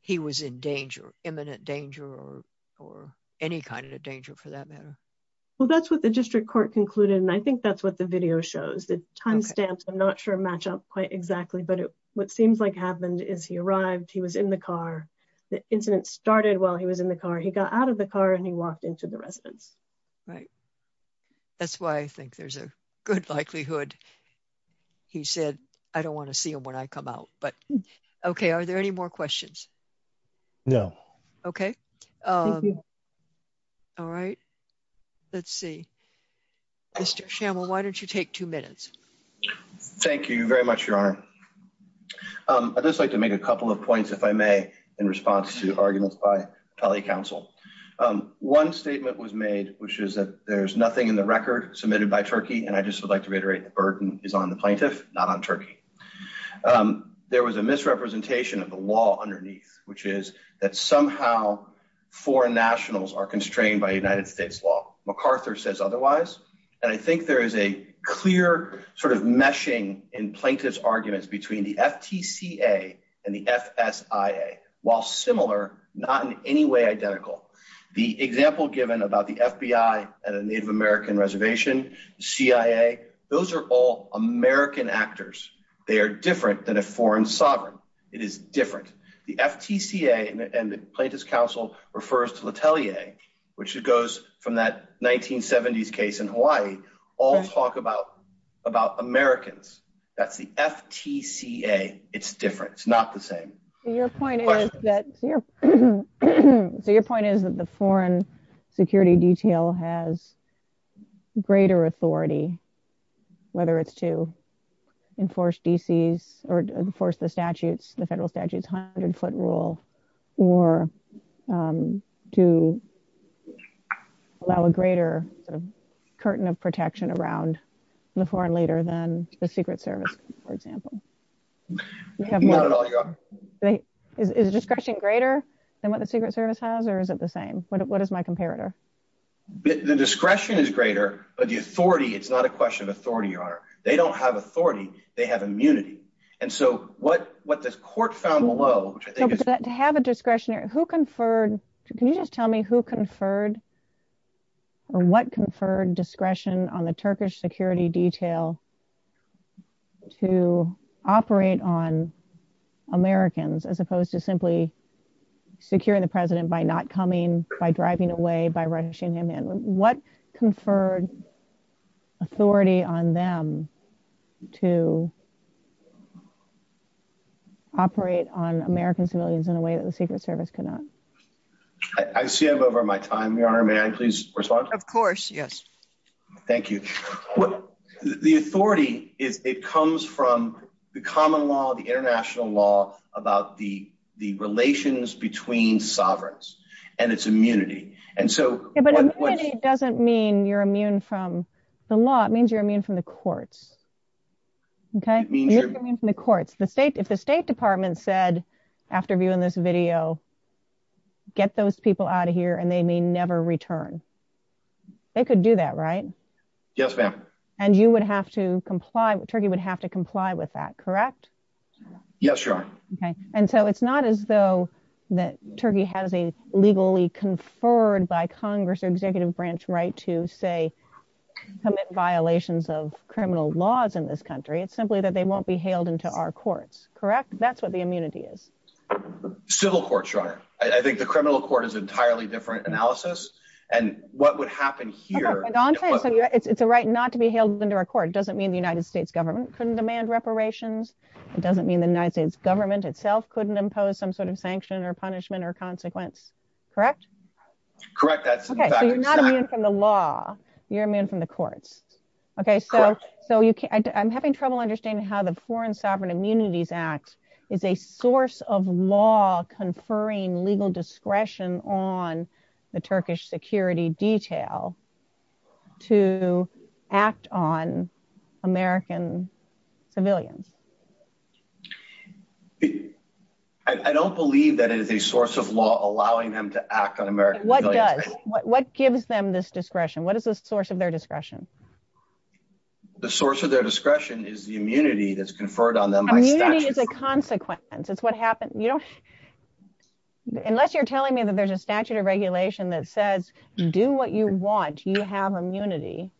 he was in danger, imminent danger, or any kind of danger for that matter. Well, that's what the district court concluded and I think that's what the video shows. The timestamps, I'm not sure match up quite exactly, but what seems like happened is he arrived, he was in the car, the incident started while he was in the car, he got out of the car and he walked into the residence. Right, that's why I think there's a good likelihood he said, I don't want to see him when I come out. Okay, are there any more questions? No. Okay. Thank you. All right, let's see. Mr. Schammel, why don't you take two minutes? Thank you very much, Your Honor. I'd just like to make a couple of points, if I may, in response to arguments by Atelier Council. One statement was made, which is that there's in the record submitted by Turkey, and I just would like to reiterate the burden is on the plaintiff, not on Turkey. There was a misrepresentation of the law underneath, which is that somehow foreign nationals are constrained by United States law. MacArthur says otherwise, and I think there is a clear sort of meshing in plaintiff's arguments between the FTCA and the reservation, CIA. Those are all American actors. They are different than a foreign sovereign. It is different. The FTCA and the Plaintiff's Council refers to Atelier, which goes from that 1970s case in Hawaii, all talk about Americans. That's the FTCA. It's different. It's not the greater authority, whether it's to enforce D.C.'s or enforce the statutes, the federal statutes hundred-foot rule, or to allow a greater sort of curtain of protection around the foreign leader than the Secret Service, for example. Not at all, Your Honor. Is discretion greater than what the Secret Service has, or is it the same? What is my comparator? The discretion is greater, but the authority, it's not a question of authority, Your Honor. They don't have authority. They have immunity, and so what the court found below, which I think is- To have a discretionary, who conferred, can you just tell me who conferred or what conferred discretion on the Turkish security detail to operate on Americans as opposed to simply securing the president by not coming, by driving away, by rushing him in? What conferred authority on them to operate on American civilians in a way that the Secret Service could not? I see I'm over my time, Your Honor. May I please respond? Of course, yes. Thank you. The authority, it comes from the common law, the international law about the relations between sovereigns and its immunity, and so- But immunity doesn't mean you're immune from the law. It means you're immune from the courts, okay? You're immune from the courts. If the State Department said, after viewing this video, get those people out of here and they may never return, they could do that, right? Yes, ma'am. And you would have to comply, Turkey would have to comply with that, correct? Yes, Your Honor. Okay, and so it's not as though that Turkey has a legally conferred by Congress or executive branch right to, say, commit violations of criminal laws in this country. It's simply that they won't be hailed into our courts, correct? That's what the immunity is. Civil courts, Your Honor. I think the criminal court is an entirely different analysis, and what would happen here- Okay, but I'm saying it's a right not to be hailed into our court. It doesn't mean the United States government couldn't demand reparations. It doesn't mean the United States government itself couldn't impose some sort of sanction or punishment or consequence, correct? Correct, that's exactly- Okay, so you're not immune from the law, you're immune from the courts, okay? Correct. So I'm having trouble understanding how the Foreign Sovereign Immunities Act is a source of law conferring legal discretion on the Turkish security detail to act on American civilians. I don't believe that it is a source of law allowing them to act on American civilians. What does? What gives them this discretion? What is the source of their discretion? The source of their discretion is the immunity that's conferred on them by statutes. Immunity is a consequence. It's what happens- Unless you're telling me that there's a statute of regulation that says, do what you want, you have immunity,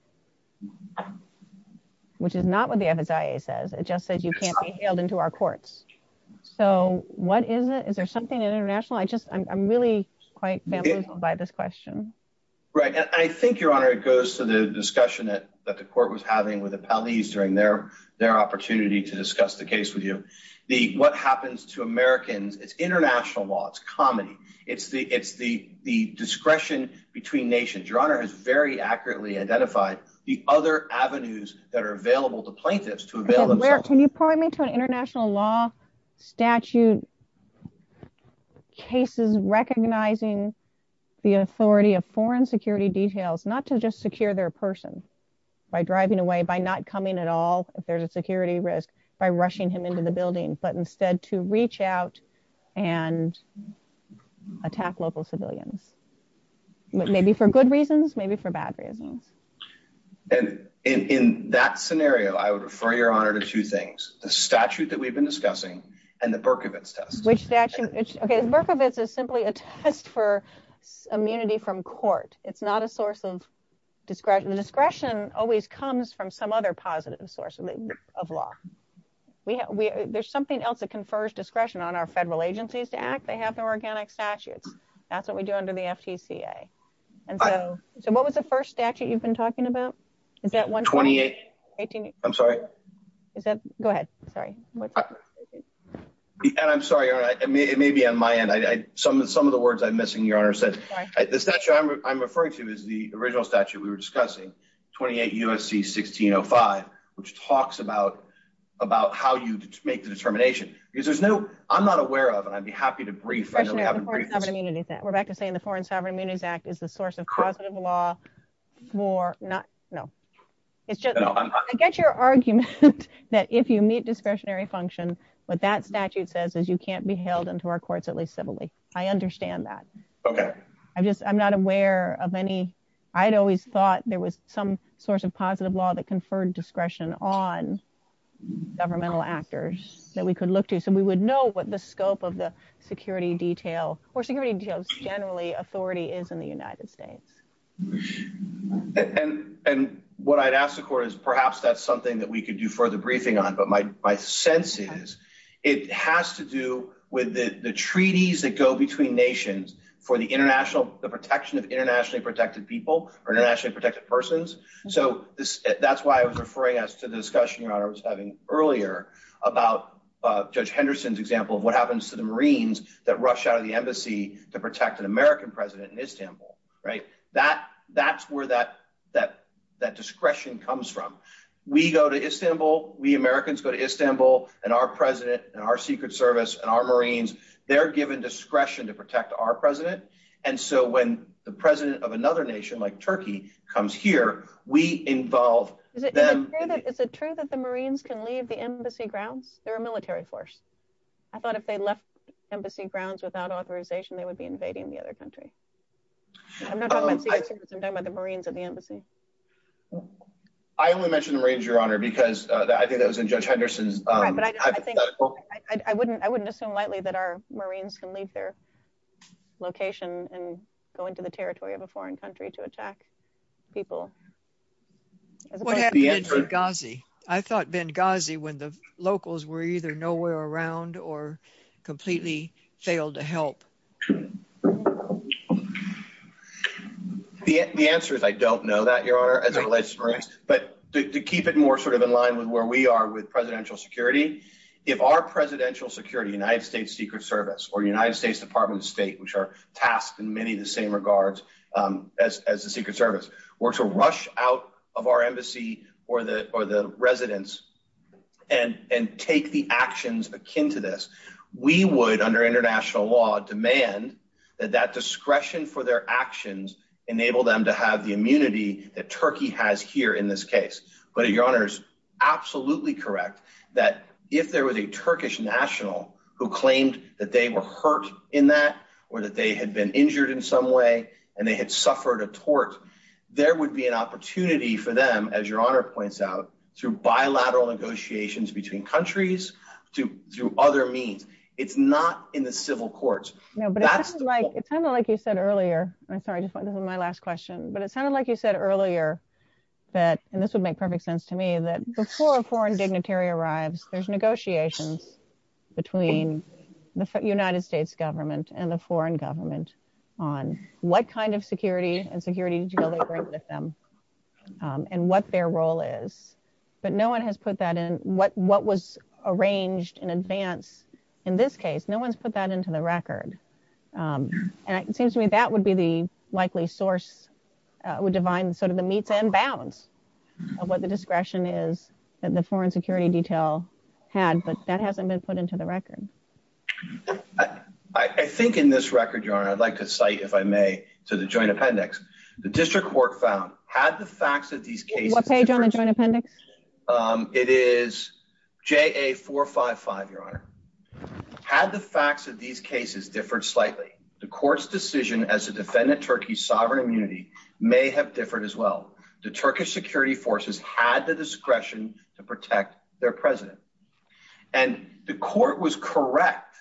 which is not what the FSIA says. It just says you can't be hailed into our courts. So what is it? Is there something international? I just, I'm really quite confused by this question. Right, and I think, Your Honor, it goes to the discussion that the court was having with the police during their opportunity to discuss the case with you. What happens to Americans, it's international law. It's comedy. It's the discretion between nations. Your Honor has very accurately identified the other avenues that are available to plaintiffs to avail themselves. Can you point me to an international law statute cases recognizing the authority of foreign security details, not to just secure their person by driving away, by not coming at all if there's a security risk, by rushing him into the building, but instead to reach out and attack local civilians, maybe for good reasons, maybe for bad reasons. And in that scenario, I would refer, Your Honor, to two things, the statute that we've been discussing and the Berkovits test. Which statute? Okay, the Berkovits is simply a test for immunity from court. It's not a source of discretion. The discretion always comes from some other positive source of law. There's something else that confers discretion on our federal agencies to act. They have their organic statutes. That's what we do under the FTCA. And so what was the first statute you've been talking about? Is that one? 28. I'm sorry. Is that? Go ahead. Sorry. And I'm sorry, Your Honor. It may be on my end. Some of the words I'm missing, Your Honor, said the statute I'm referring to is the original statute we were discussing, 28 U.S.C. 1605, which talks about how you make the determination. Because there's no, I'm not aware of, and I'd be happy to brief. We're back to saying the Foreign Sovereign Immunities Act is the source of positive law for not, no, it's just, I get your argument that if you meet discretionary function, what that statute says is you can't be held into our courts, at least civilly. I understand that. Okay. I'm just, I'm not aware of any, I'd always thought there was some source of positive law that conferred discretion on governmental actors that we could look to. So we would know what the scope of the security detail or security details generally authority is in the United States. And what I'd ask the court is perhaps that's something that we could do further briefing on. My sense is it has to do with the treaties that go between nations for the international, the protection of internationally protected people or internationally protected persons. So that's why I was referring us to the discussion Your Honor was having earlier about Judge Henderson's example of what happens to the Marines that rush out of the embassy to protect an American president in Istanbul, right? That's where that discretion comes from. We go to Istanbul, we Americans go to Istanbul and our president and our secret service and our Marines, they're given discretion to protect our president. And so when the president of another nation like Turkey comes here, we involve them. Is it true that the Marines can leave the embassy grounds? They're a military force. I thought if they left embassy grounds without authorization, they would be invading the other country. I'm not talking about the Marines at the embassy. I only mentioned the Marines, Your Honor, because I think that was in Judge Henderson's- Right, but I think I wouldn't assume lightly that our Marines can leave their location and go into the territory of a foreign country to attack people. I thought Benghazi when the locals were either nowhere around or completely failed to help. The answer is I don't know that, Your Honor, as a relationship. But to keep it more sort of in line with where we are with presidential security, if our presidential security, United States Secret Service or United States Department of State, which are tasked in many of the same regards as the Secret Service, were to rush out of our embassy or the that discretion for their actions enable them to have the immunity that Turkey has here in this case. But Your Honor is absolutely correct that if there was a Turkish national who claimed that they were hurt in that or that they had been injured in some way and they had suffered a tort, there would be an opportunity for them, as Your Honor points out, through bilateral negotiations between countries, through other means. It's not in the civil courts. No, but it sounded like you said earlier. I'm sorry, this is my last question. But it sounded like you said earlier that, and this would make perfect sense to me, that before a foreign dignitary arrives, there's negotiations between the United States government and the foreign government on what kind of security and security deal they bring with them and what their role is. But no one has put that in what was arranged in advance in this case. No one's put that into the record. And it seems to me that would be the likely source, would define sort of the meats and bounds of what the discretion is that the foreign security detail had, but that hasn't been put into the record. I think in this record, Your Honor, I'd like to cite, if I may, to the joint appendix. The district court found, had the facts of these cases – What page on the joint appendix? It is JA455, Your Honor. Had the facts of these cases differed slightly, the court's decision as to defend Turkey's sovereign immunity may have differed as well. The Turkish security forces had the discretion to protect their president. And the court was correct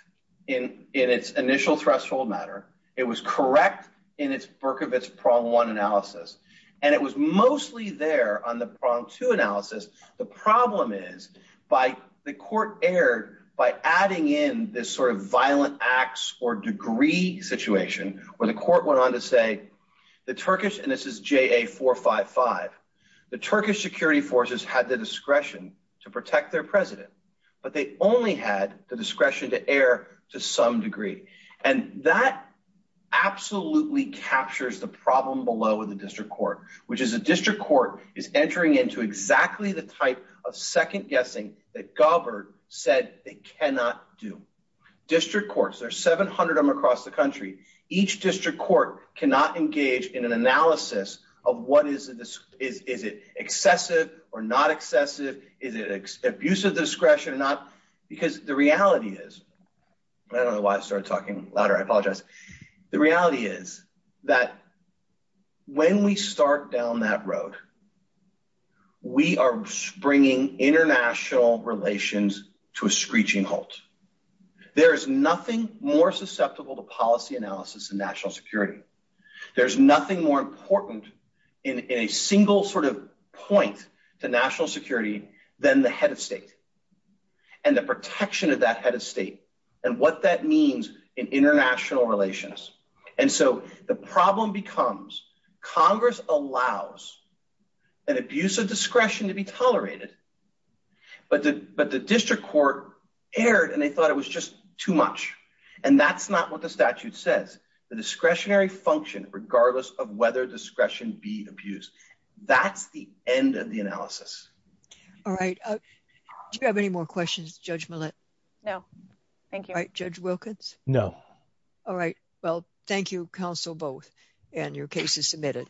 in its initial threshold matter. It was correct in its Berkovits prong one analysis. And it was mostly there on the prong two analysis. The problem is by the court erred by adding in this sort of violent acts or degree situation where the court went on to say, the Turkish – and this is JA455 – the Turkish security forces had the discretion to protect their president, but they only had the discretion to err to some degree. And that absolutely captures the problem below with the district court, which is the district court is entering into exactly the type of second guessing that Gabbard said they cannot do. District courts – there are 700 of them across the country – each district court cannot engage in an analysis of what is the – is it discretion or not? Because the reality is – I don't know why I started talking louder. I apologize. The reality is that when we start down that road, we are springing international relations to a screeching halt. There is nothing more susceptible to policy analysis in national security. There's nothing more important in a single sort of point to national security than the head of state and the protection of that head of state and what that means in international relations. And so the problem becomes Congress allows an abuse of discretion to be tolerated, but the district court erred and they thought it was just too much. And that's not what the statute says. The discretionary function, regardless of whether discretion be used, that's the end of the analysis. All right. Do you have any more questions, Judge Millett? No, thank you. All right, Judge Wilkins? No. All right. Well, thank you, counsel, both, and your case is submitted.